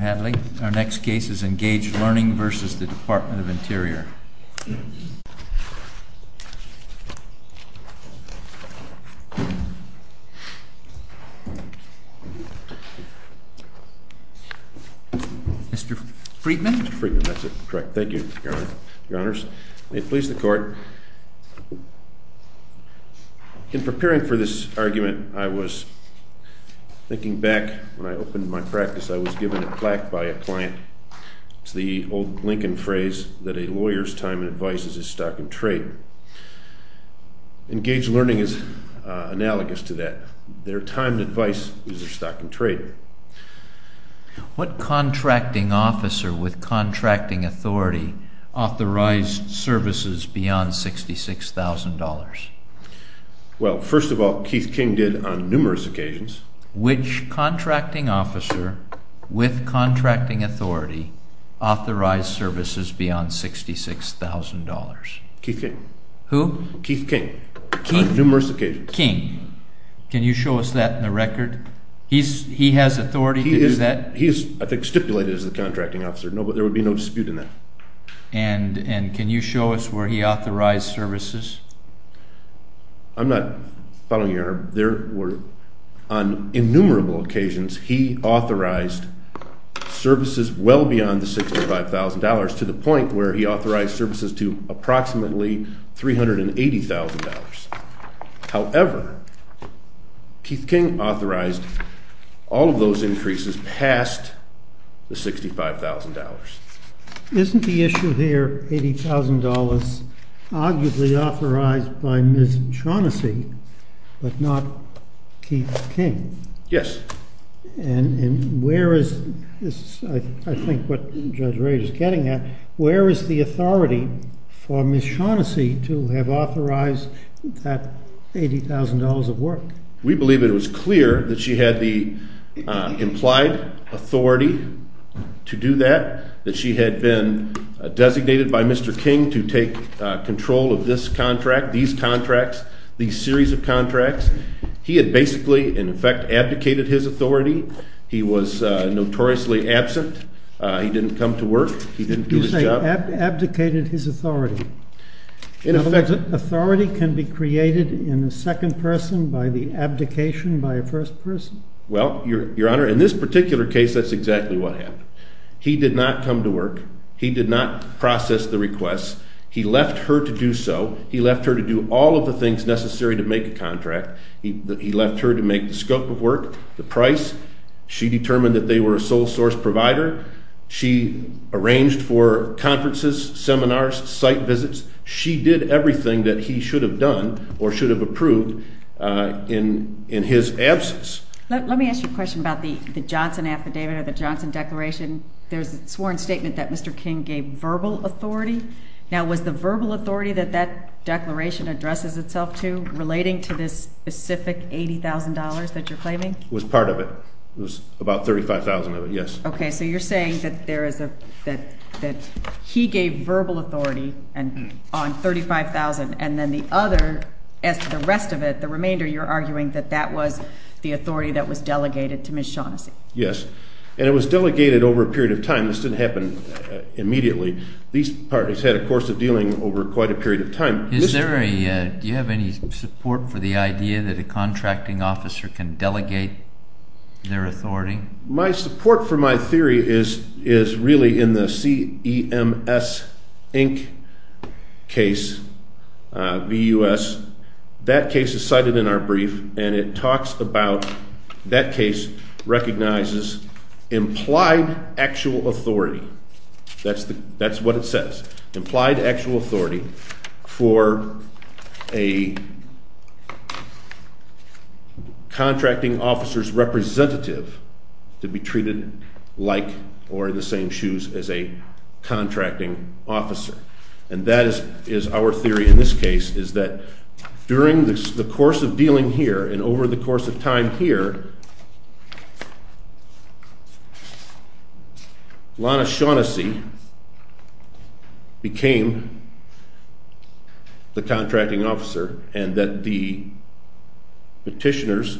Mr. Hadley, our next case is ENGAGE LEARNING v. Department of Interior. Mr. Friedman? Mr. Friedman, that's correct. Thank you, Your Honors. May it please the Court, in preparing for this argument, I was thinking back when I opened my practice, I was given a plaque by a client. It's the old Lincoln phrase that a lawyer's time and advice is his stock and trade. ENGAGE LEARNING is analogous to that. Their time and advice is their stock and trade. What contracting officer with contracting authority authorized services beyond $66,000? Well, first of all, Keith King did on numerous occasions. Which contracting officer with contracting authority authorized services beyond $66,000? Keith King. Who? Keith King. On numerous occasions. King. Can you show us that in the record? He has authority to do that? He is, I think, stipulated as the contracting officer. There would be no dispute in that. And can you show us where he authorized services? I'm not following you, Your Honor. There were, on innumerable occasions, he authorized services well beyond the $65,000 to the point where he authorized services to approximately $380,000. However, Keith King authorized all of those increases past the $65,000. Isn't the issue here $80,000 arguably authorized by Ms. Shaughnessy but not Keith King? Yes. And where is, I think what Judge Rage is getting at, where is the authority for Ms. Shaughnessy to have authorized that $80,000 of work? We believe it was clear that she had the implied authority to do that, that she had been designated by Mr. King to take control of this contract, these contracts, these series of contracts. He had basically, in effect, abdicated his authority. He was notoriously absent. He didn't come to work. He didn't do his job. He abdicated his authority. In effect. Authority can be created in a second person by the abdication by a first person. Well, Your Honor, in this particular case, that's exactly what happened. He did not come to work. He did not process the request. He left her to do so. He left her to do all of the things necessary to make a contract. He left her to make the scope of work, the price. She determined that they were a sole source provider. She arranged for conferences, seminars, site visits. She did everything that he should have done or should have approved in his absence. Let me ask you a question about the Johnson Affidavit or the Johnson Declaration. There's a sworn statement that Mr. King gave verbal authority. Now, was the verbal authority that that declaration addresses itself to relating to this specific $80,000 that you're claiming? It was part of it. It was about $35,000 of it, yes. Okay. So you're saying that he gave verbal authority on $35,000 and then the other, the rest of it, the remainder, you're arguing that that was the authority that was delegated to Ms. Shaughnessy? Yes. And it was delegated over a period of time. This didn't happen immediately. These parties had a course of dealing over quite a period of time. Do you have any support for the idea that a contracting officer can delegate their authority? My support for my theory is really in the CEMS Inc. case, VUS. That case is cited in our brief, and it talks about that case recognizes implied actual authority. That's what it says. Implied actual authority for a contracting officer's representative to be treated like or in the same shoes as a contracting officer. And that is our theory in this case is that during the course of dealing here and over the course of time here, Lana Shaughnessy became the contracting officer and that the petitioners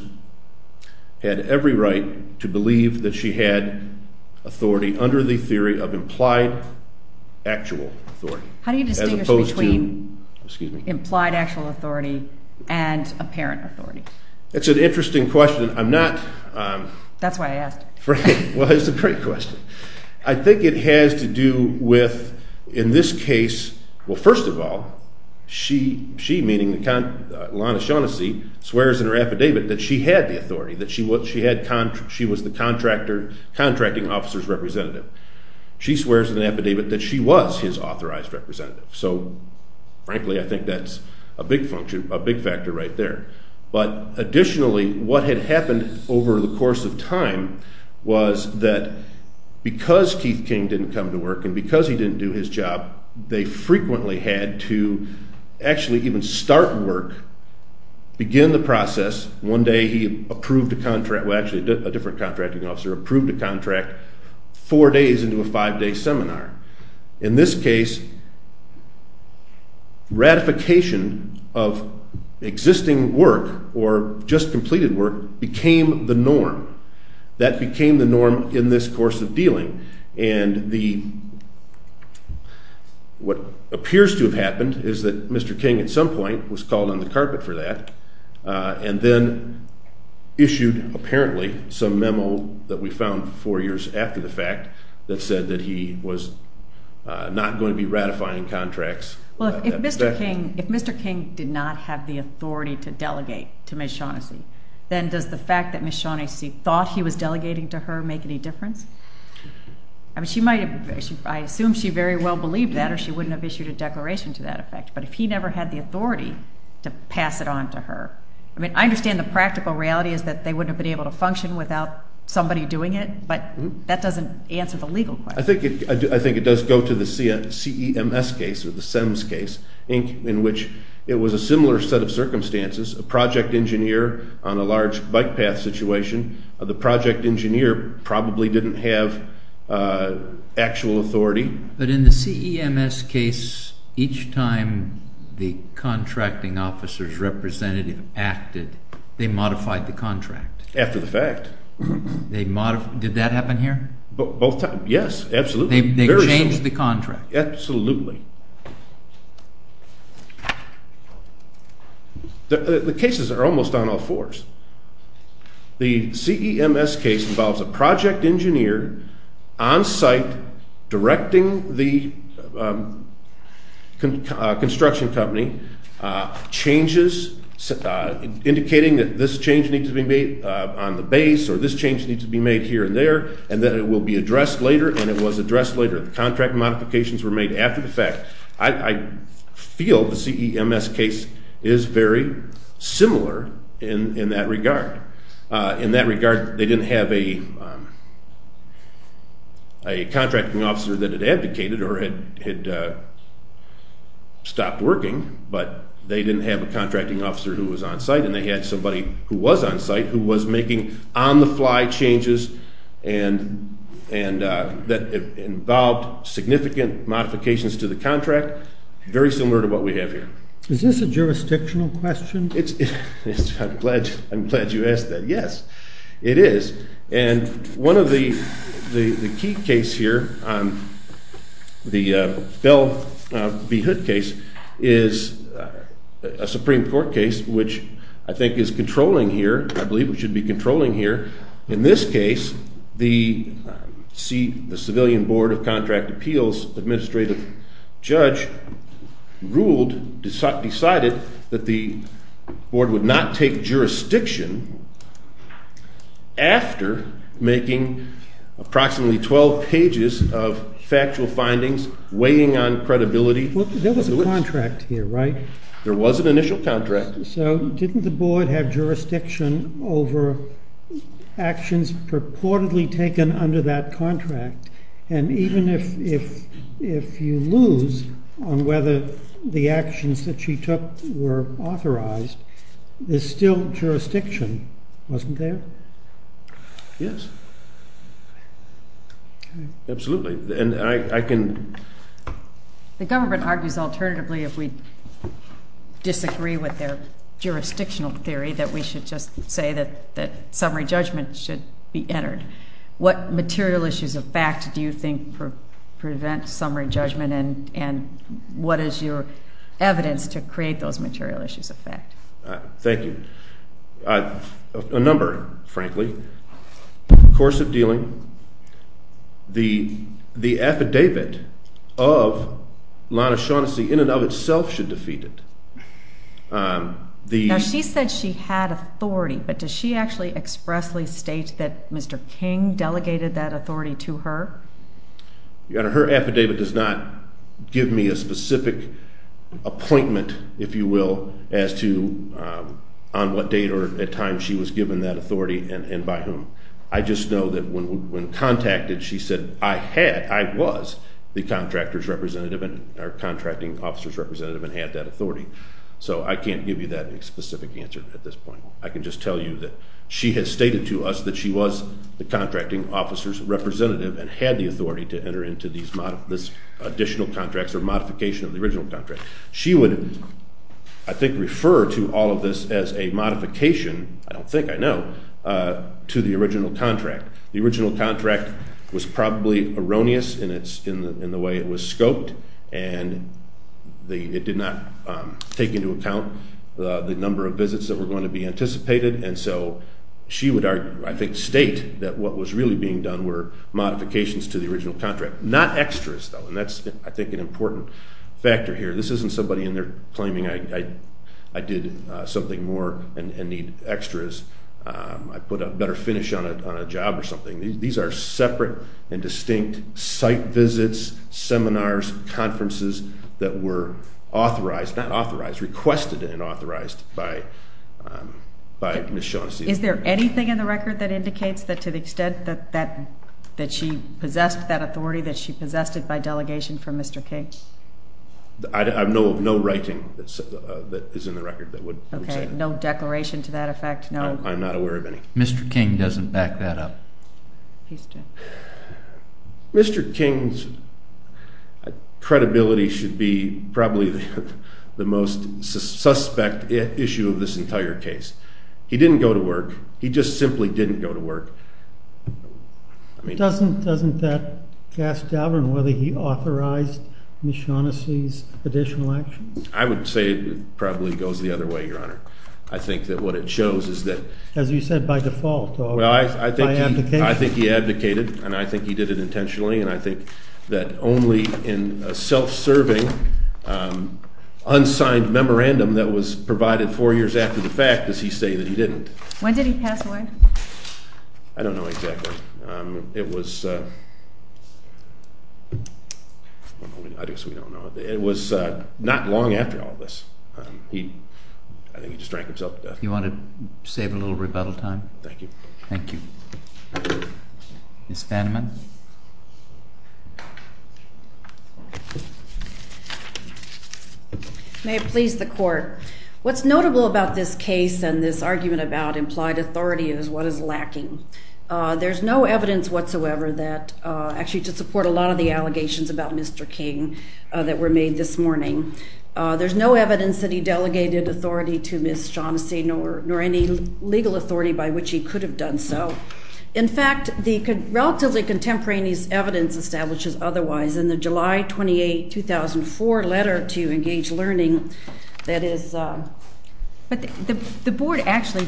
had every right to believe that she had authority under the theory of implied actual authority. How do you distinguish between implied actual authority and apparent authority? That's an interesting question. I'm not... That's why I asked. Well, it's a great question. I think it has to do with, in this case, well, first of all, she, meaning Lana Shaughnessy, swears in her affidavit that she had the authority, that she was the contracting officer's representative. She swears in the affidavit that she was his authorized representative. So, frankly, I think that's a big function, a big factor right there. But additionally, what had happened over the course of time was that because Keith King didn't come to work and because he didn't do his job, they frequently had to actually even start work, begin the process. One day he approved a contract, well, actually, a different contracting officer approved a contract four days into a five-day seminar. In this case, ratification of existing work or just completed work became the norm. That became the norm in this course of dealing. And what appears to have happened is that Mr. King at some point was called on the carpet for that and then issued, apparently, some memo that we found four years after the fact that said that he was not going to be ratifying contracts. Well, if Mr. King did not have the authority to delegate to Ms. Shaughnessy, then does the fact that Ms. Shaughnessy thought he was delegating to her make any difference? I assume she very well believed that or she wouldn't have issued a declaration to that effect. But if he never had the authority to pass it on to her, I understand the practical reality is that they wouldn't have been able to function without somebody doing it, but that doesn't answer the legal question. I think it does go to the CEMS case in which it was a similar set of circumstances, a project engineer on a large bike path situation. The project engineer probably didn't have actual authority. But in the CEMS case, each time the contracting officer's representative acted, they modified the contract. After the fact. Did that happen here? Both times. Yes, absolutely. They changed the contract. Absolutely. The cases are almost on all fours. The CEMS case involves a project engineer on site directing the construction company, changes, indicating that this change needs to be made on the base or this change needs to be made here and there, and that it will be addressed later and it was addressed later. The contract modifications were made after the fact. I feel the CEMS case is very similar in that regard. In that regard, they didn't have a contracting officer that had advocated or had stopped working, but they didn't have a contracting officer who was on site, and they had somebody who was on site who was making on-the-fly changes that involved significant modifications to the contract. Very similar to what we have here. Is this a jurisdictional question? I'm glad you asked that. Yes, it is. And one of the key cases here, the Bell v. Hood case, is a Supreme Court case, which I think is controlling here. I believe it should be controlling here. In this case, the Civilian Board of Contract Appeals administrative judge ruled, decided that the board would not take jurisdiction after making approximately 12 pages of factual findings weighing on credibility. There was a contract here, right? There was an initial contract. So didn't the board have jurisdiction over actions purportedly taken under that contract? And even if you lose on whether the actions that she took were authorized, there's still jurisdiction, wasn't there? Yes. Absolutely. The government argues alternatively, if we disagree with their jurisdictional theory, that we should just say that summary judgment should be entered. What material issues of fact do you think prevent summary judgment, and what is your evidence to create those material issues of fact? Thank you. A number, frankly. In the course of dealing, the affidavit of Lana Shaughnessy in and of itself should defeat it. Now, she said she had authority, but does she actually expressly state that Mr. King delegated that authority to her? Your Honor, her affidavit does not give me a specific appointment, if you will, as to on what date or at time she was given that authority and by whom. I just know that when contacted, she said I had, I was the contractor's representative or contracting officer's representative and had that authority. So I can't give you that specific answer at this point. I can just tell you that she has stated to us that she was the contracting officer's representative and had the authority to enter into these additional contracts or modification of the original contract. She would, I think, refer to all of this as a modification, I don't think, I know, to the original contract. The original contract was probably erroneous in the way it was scoped. And it did not take into account the number of visits that were going to be anticipated. And so she would, I think, state that what was really being done were modifications to the original contract. Not extras, though, and that's, I think, an important factor here. This isn't somebody in there claiming I did something more and need extras. I put a better finish on a job or something. These are separate and distinct site visits, seminars, conferences that were authorized, not authorized, requested and authorized by Ms. Shaughnessy. Is there anything in the record that indicates that to the extent that she possessed that authority, that she possessed it by delegation from Mr. King? I have no writing that is in the record that would say that. Okay, no declaration to that effect, no? I'm not aware of any. Mr. King doesn't back that up. Mr. King's credibility should be probably the most suspect issue of this entire case. He didn't go to work. He just simply didn't go to work. Doesn't that cast doubt on whether he authorized Ms. Shaughnessy's additional actions? I would say it probably goes the other way, Your Honor. I think that what it shows is that— As you said, by default, by abdication. I think he abdicated, and I think he did it intentionally, and I think that only in a self-serving, unsigned memorandum that was provided four years after the fact does he say that he didn't. When did he pass away? I don't know exactly. It was—I guess we don't know. It was not long after all this. I think he just drank himself to death. You want to save a little rebuttal time? Thank you. Thank you. Ms. Vanman? May it please the Court. What's notable about this case and this argument about implied authority is what is lacking. There's no evidence whatsoever that—actually, to support a lot of the allegations about Mr. King that were made this morning. There's no evidence that he delegated authority to Ms. Shaughnessy nor any legal authority by which he could have done so. In fact, the relatively contemporaneous evidence establishes otherwise in the July 28, 2004 letter to Engage Learning that is— But the board actually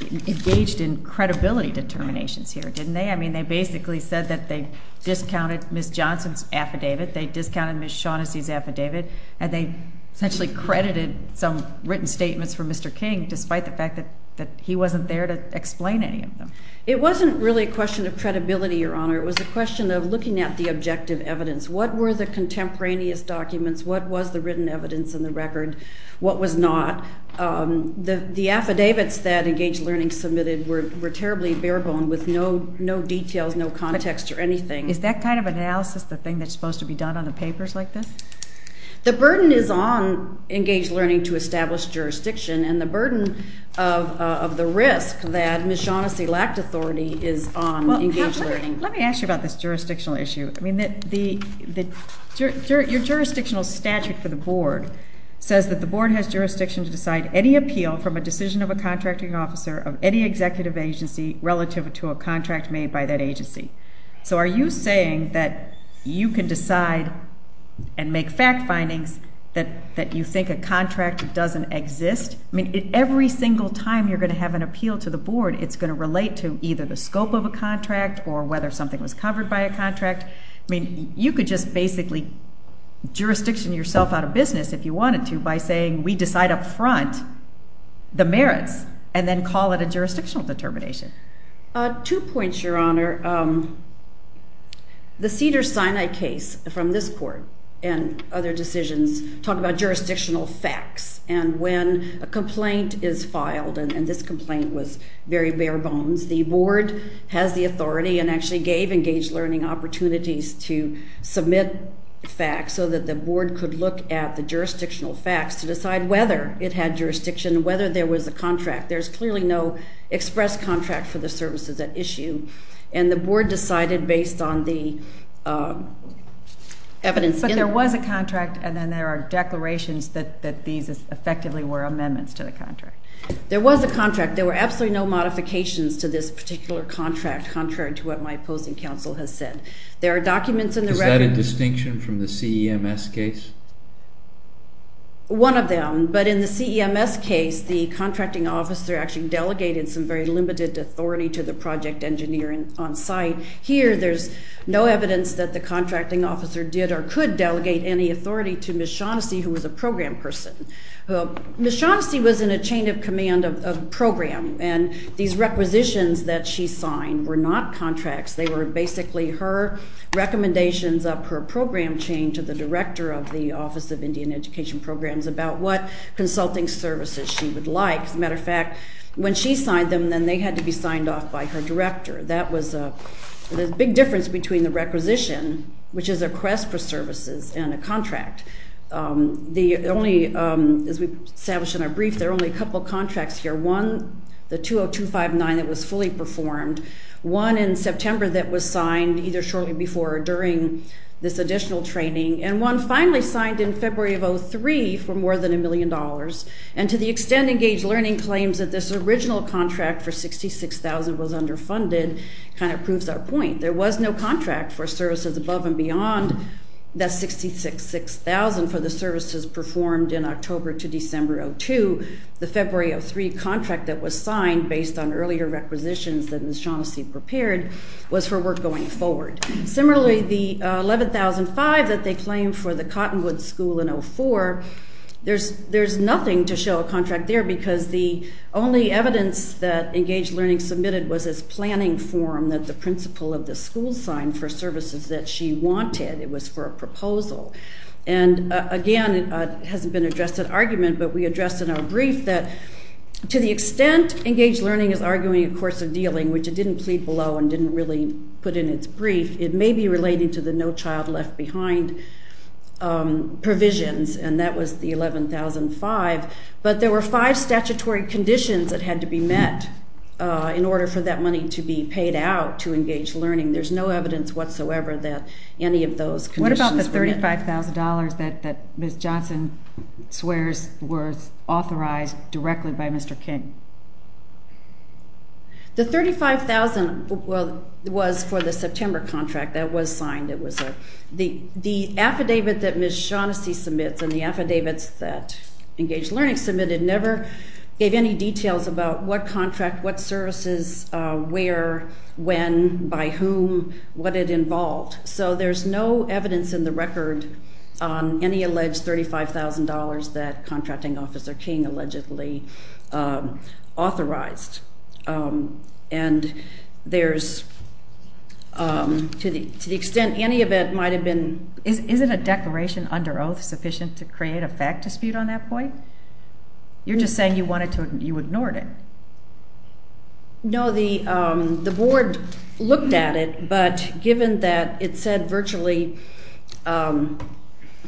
engaged in credibility determinations here, didn't they? I mean, they basically said that they discounted Ms. Johnson's affidavit. They discounted Ms. Shaughnessy's affidavit. And they essentially credited some written statements for Mr. King despite the fact that he wasn't there to explain any of them. It wasn't really a question of credibility, Your Honor. It was a question of looking at the objective evidence. What were the contemporaneous documents? What was the written evidence in the record? What was not? The affidavits that Engage Learning submitted were terribly bare-boned with no details, no context or anything. Is that kind of analysis the thing that's supposed to be done on the papers like this? The burden is on Engage Learning to establish jurisdiction, and the burden of the risk that Ms. Shaughnessy lacked authority is on Engage Learning. Let me ask you about this jurisdictional issue. I mean, your jurisdictional statute for the board says that the board has jurisdiction to decide any appeal from a decision of a contracting officer of any executive agency relative to a contract made by that agency. So are you saying that you can decide and make fact findings that you think a contract doesn't exist? I mean, every single time you're going to have an appeal to the board, it's going to relate to either the scope of a contract or whether something was covered by a contract. I mean, you could just basically jurisdiction yourself out of business if you wanted to by saying we decide up front the merits and then call it a jurisdictional determination. Two points, Your Honor. The Cedars-Sinai case from this court and other decisions talk about jurisdictional facts, and when a complaint is filed, and this complaint was very bare-bones, the board has the authority and actually gave Engage Learning opportunities to submit facts so that the board could look at the jurisdictional facts to decide whether it had jurisdiction, whether there was a contract. There's clearly no express contract for the services at issue, and the board decided based on the evidence. But there was a contract, and then there are declarations that these effectively were amendments to the contract. There was a contract. There were absolutely no modifications to this particular contract contrary to what my opposing counsel has said. There are documents in the record. Is that a distinction from the CEMS case? One of them, but in the CEMS case, the contracting officer actually delegated some very limited authority to the project engineer on site. Here, there's no evidence that the contracting officer did or could delegate any authority to Ms. Shaughnessy, who was a program person. Ms. Shaughnessy was in a chain of command of a program, and these requisitions that she signed were not contracts. They were basically her recommendations up her program chain to the director of the Office of Indian Education Programs about what consulting services she would like. As a matter of fact, when she signed them, then they had to be signed off by her director. That was a big difference between the requisition, which is a quest for services, and a contract. The only, as we've established in our brief, there are only a couple of contracts here. One, the 20259 that was fully performed. One in September that was signed either shortly before or during this additional training. And one finally signed in February of 2003 for more than a million dollars. And to the extent Engaged Learning claims that this original contract for 66,000 was underfunded kind of proves our point. There was no contract for services above and beyond that 66,000 for the services performed in October to December of 2002. The February of 2003 contract that was signed based on earlier requisitions that Ms. Shaughnessy prepared was her work going forward. Similarly, the 11005 that they claim for the Cottonwood School in 04, there's nothing to show a contract there because the only evidence that Engaged Learning submitted was this planning form that the principal of the school signed for services that she wanted. And again, it hasn't been addressed in argument, but we addressed in our brief that to the extent Engaged Learning is arguing a course of dealing, which it didn't plead below and didn't really put in its brief, it may be related to the No Child Left Behind provisions, and that was the 11005. But there were five statutory conditions that had to be met in order for that money to be paid out to Engaged Learning. There's no evidence whatsoever that any of those conditions were met. What about the $35,000 that Ms. Johnson swears was authorized directly by Mr. King? The $35,000 was for the September contract that was signed. The affidavit that Ms. Shaughnessy submits and the affidavits that Engaged Learning submitted never gave any details about what contract, what services, where, when, by whom, what it involved. So there's no evidence in the record on any alleged $35,000 that Contracting Officer King allegedly authorized. And there's, to the extent any of it might have been... Isn't a declaration under oath sufficient to create a fact dispute on that point? You're just saying you wanted to, you ignored it. No, the board looked at it, but given that it said virtually...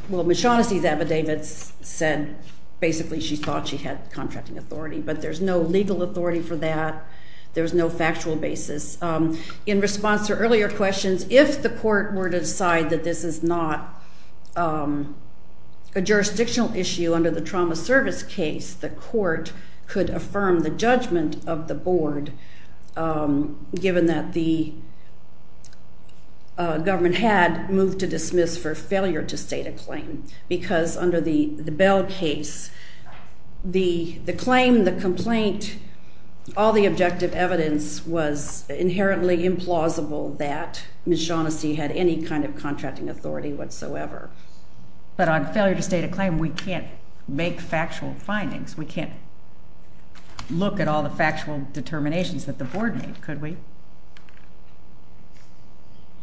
Well, Ms. Shaughnessy's affidavits said basically she thought she had contracting authority, but there's no legal authority for that. There's no factual basis. In response to earlier questions, if the court were to decide that this is not a jurisdictional issue under the trauma service case, the court could affirm the judgment of the board, given that the government had moved to dismiss for failure to state a claim. Because under the Bell case, the claim, the complaint, all the objective evidence was inherently implausible that Ms. Shaughnessy had any kind of contracting authority whatsoever. But on failure to state a claim, we can't make factual findings. We can't look at all the factual determinations that the board made, could we?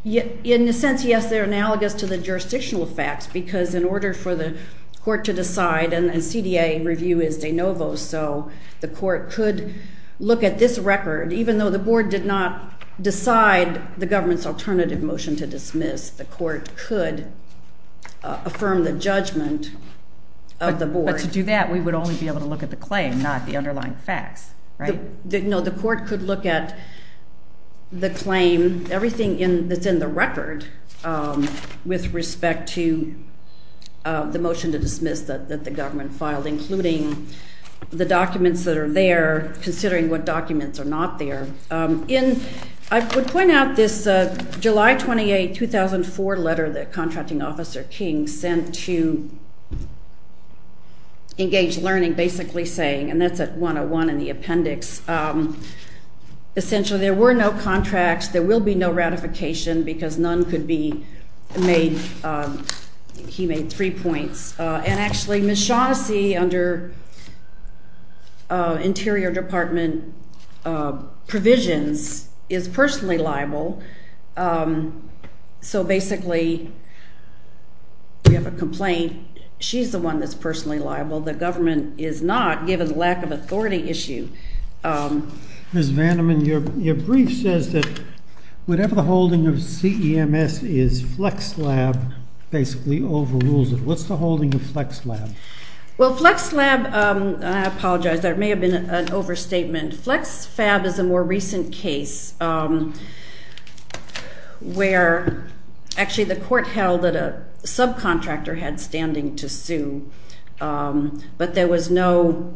In a sense, yes, they're analogous to the jurisdictional facts, because in order for the court to decide, and CDA review is de novo, so the court could look at this record, even though the board did not decide the government's alternative motion to dismiss, the court could affirm the judgment of the board. But to do that, we would only be able to look at the claim, not the underlying facts, right? The court could look at the claim, everything that's in the record with respect to the motion to dismiss that the government filed, including the documents that are there, considering what documents are not there. In, I would point out this July 28, 2004 letter that Contracting Officer King sent to Engage Learning, basically saying, and that's at 101 in the appendix, essentially there were no contracts, there will be no ratification, because none could be made, he made three points. And actually, Ms. Shaughnessy, under Interior Department provisions, is personally liable, so basically, we have a complaint, she's the one that's personally liable, the government is not, given the lack of authority issue. Ms. Vanderman, your brief says that whatever the holding of CEMS is, FlexLab basically overrules it. What's the holding of FlexLab? Well, FlexLab, I apologize, there may have been an overstatement. FlexFab is a more recent case where actually the court held that a subcontractor had standing to sue, but there was no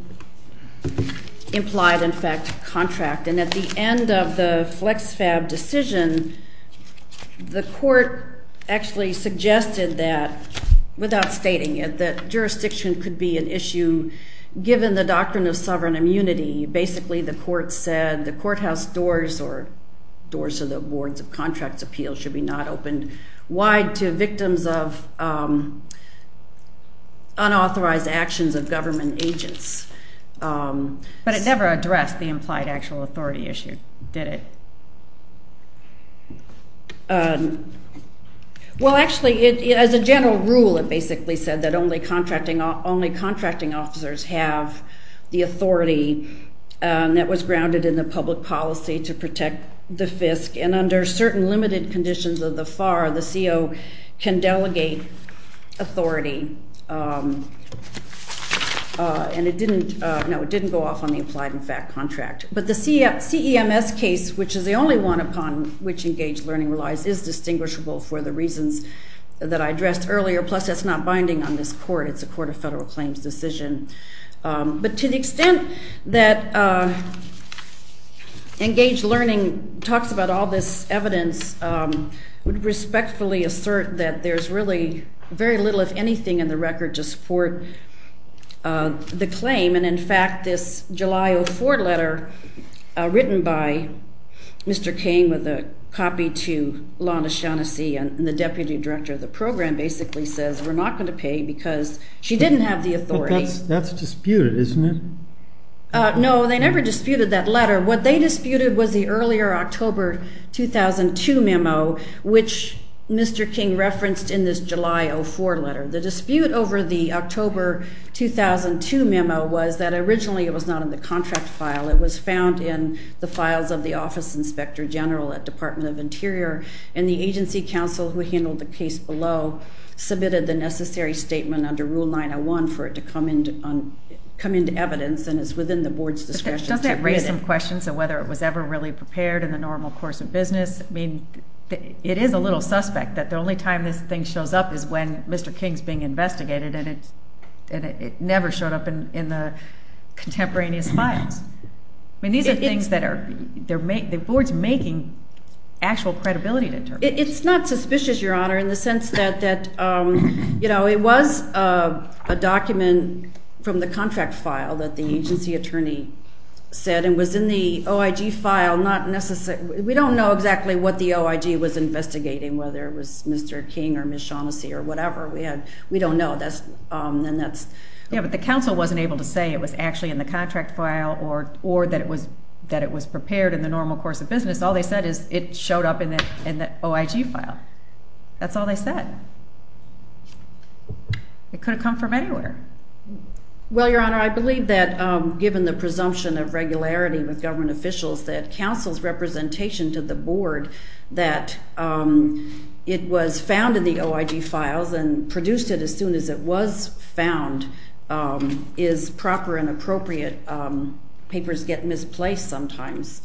implied, in fact, contract. And at the end of the FlexFab decision, the court actually suggested that, without stating it, that jurisdiction could be an issue, given the doctrine of sovereign immunity. Basically, the court said the courthouse doors, or doors of the boards of contracts appeal, should be not opened wide to victims of unauthorized actions of government agents. But it never addressed the implied actual authority issue, did it? Well, actually, as a general rule, it basically said that only contracting officers have the authority that was grounded in the public policy to protect the FISC, and under certain limited conditions of the FAR, the CO can delegate authority. And it didn't go off on the implied, in fact, contract. But the CEMS case, which is the only one upon which engaged learning relies, is distinguishable for the reasons that I addressed earlier, plus that's not binding on this court. It's a court of federal claims decision. But to the extent that engaged learning talks about all this evidence, I would respectfully assert that there's really very little, if anything, in the record to support the claim. And in fact, this July 04 letter written by Mr. King with a copy to Lana Shaughnessy and the deputy director of the program basically says we're not going to pay because she didn't have the authority. But that's disputed, isn't it? No, they never disputed that letter. What they disputed was the earlier October 2002 memo, which Mr. King referenced in this July 04 letter. The dispute over the October 2002 memo was that originally it was not in the contract file. It was found in the files of the office inspector general at Department of Interior. And the agency counsel who handled the case below submitted the necessary statement under Rule 901 for it to come into evidence, and it's within the board's discretion to admit it. I have some questions on whether it was ever really prepared in the normal course of business. I mean, it is a little suspect that the only time this thing shows up is when Mr. King's being investigated, and it never showed up in the contemporaneous files. I mean, these are things that the board's making actual credibility determinants. It's not suspicious, Your Honor, in the sense that it was a document from the contract file that the agency attorney said and was in the OIG file. We don't know exactly what the OIG was investigating, whether it was Mr. King or Ms. Shaughnessy or whatever. We don't know. Yeah, but the counsel wasn't able to say it was actually in the contract file or that it was prepared in the normal course of business. All they said is it showed up in the OIG file. That's all they said. It could have come from anywhere. Well, Your Honor, I believe that given the presumption of regularity with government officials that counsel's representation to the board that it was found in the OIG files and produced it as soon as it was found is proper and appropriate. Papers get misplaced sometimes,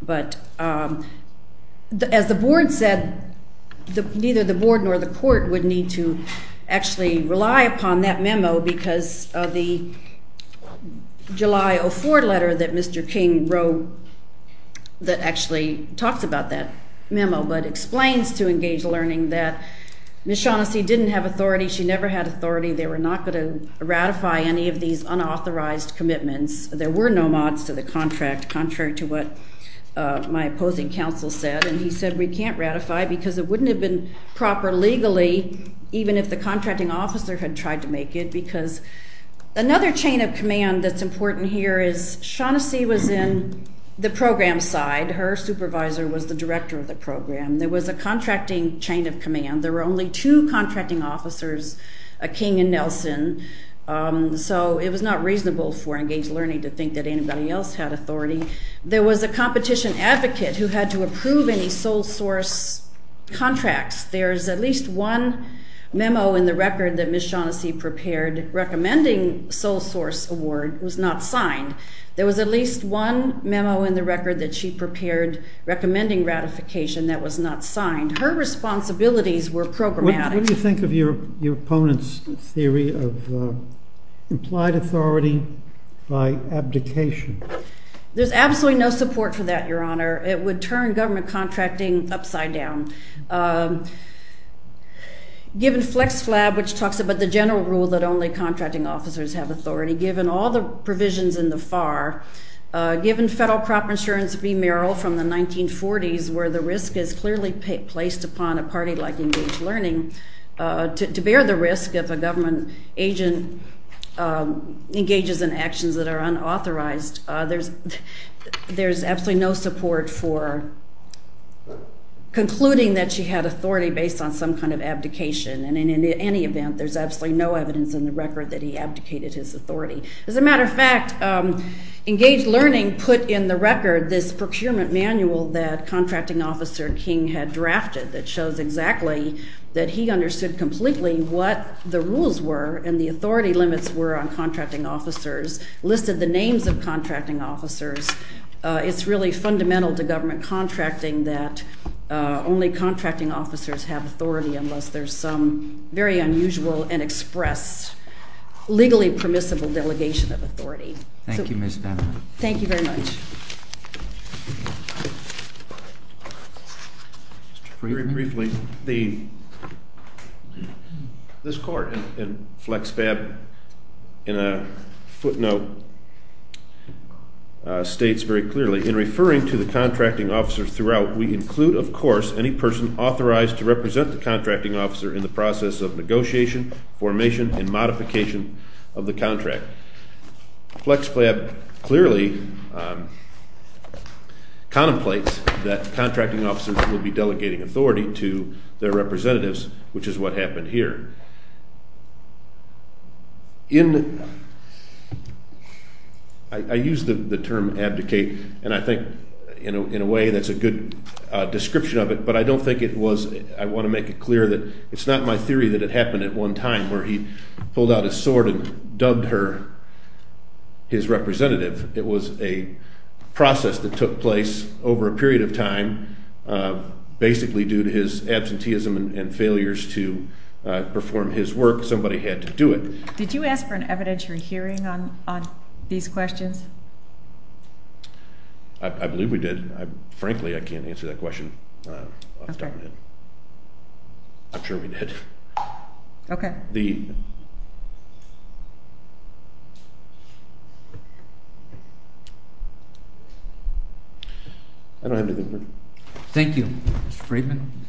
but as the board said, neither the board nor the court would need to actually rely upon that memo because of the July 04 letter that Mr. King wrote that actually talks about that memo but explains to Engage Learning that Ms. Shaughnessy didn't have authority. She never had authority. They were not going to ratify any of these unauthorized commitments. There were no mods to the contract, contrary to what my opposing counsel said, and he said we can't ratify because it wouldn't have been proper legally, even if the contracting officer had tried to make it, Another chain of command that's important here is Shaughnessy was in the program side. Her supervisor was the director of the program. There was a contracting chain of command. There were only two contracting officers, King and Nelson, so it was not reasonable for Engage Learning to think that anybody else had authority. There was a competition advocate who had to approve any sole source contracts. There's at least one memo in the record that Ms. Shaughnessy prepared recommending sole source award was not signed. There was at least one memo in the record that she prepared recommending ratification that was not signed. Her responsibilities were programmatic. What do you think of your opponent's theory of implied authority by abdication? There's absolutely no support for that, Your Honor. It would turn government contracting upside down. Given FlexFlab, which talks about the general rule that only contracting officers have authority, given all the provisions in the FAR, given federal crop insurance remerial from the 1940s where the risk is clearly placed upon a party like Engage Learning, to bear the risk if a government agent engages in actions that are unauthorized, there's absolutely no support for concluding that she had authority based on some kind of abdication. And in any event, there's absolutely no evidence in the record that he abdicated his authority. As a matter of fact, Engage Learning put in the record this procurement manual that Contracting Officer King had drafted that shows exactly that he understood completely what the rules were and the authority limits were on contracting officers, listed the names of contracting officers. It's really fundamental to government contracting that only contracting officers have authority unless there's some very unusual and expressed legally permissible delegation of authority. Thank you, Ms. Bannon. Thank you very much. Very briefly, this court in FlexFlab, in a footnote, states very clearly, in referring to the contracting officers throughout, we include, of course, any person authorized to represent the contracting officer in the process of negotiation, formation, and modification of the contract. FlexFlab clearly contemplates that contracting officers will be delegating authority to their representatives, which is what happened here. In – I use the term abdicate, and I think in a way that's a good description of it, but I don't think it was – I want to make it clear that it's not my theory that it happened at one time where he pulled out his sword and dubbed her his representative. It was a process that took place over a period of time, basically due to his absenteeism and failures to perform his work. Somebody had to do it. Did you ask for an evidentiary hearing on these questions? I believe we did. Frankly, I can't answer that question off the top of my head. Okay. I'm sure we did. Okay. The – I don't have anything further. Thank you, Mr. Friedman.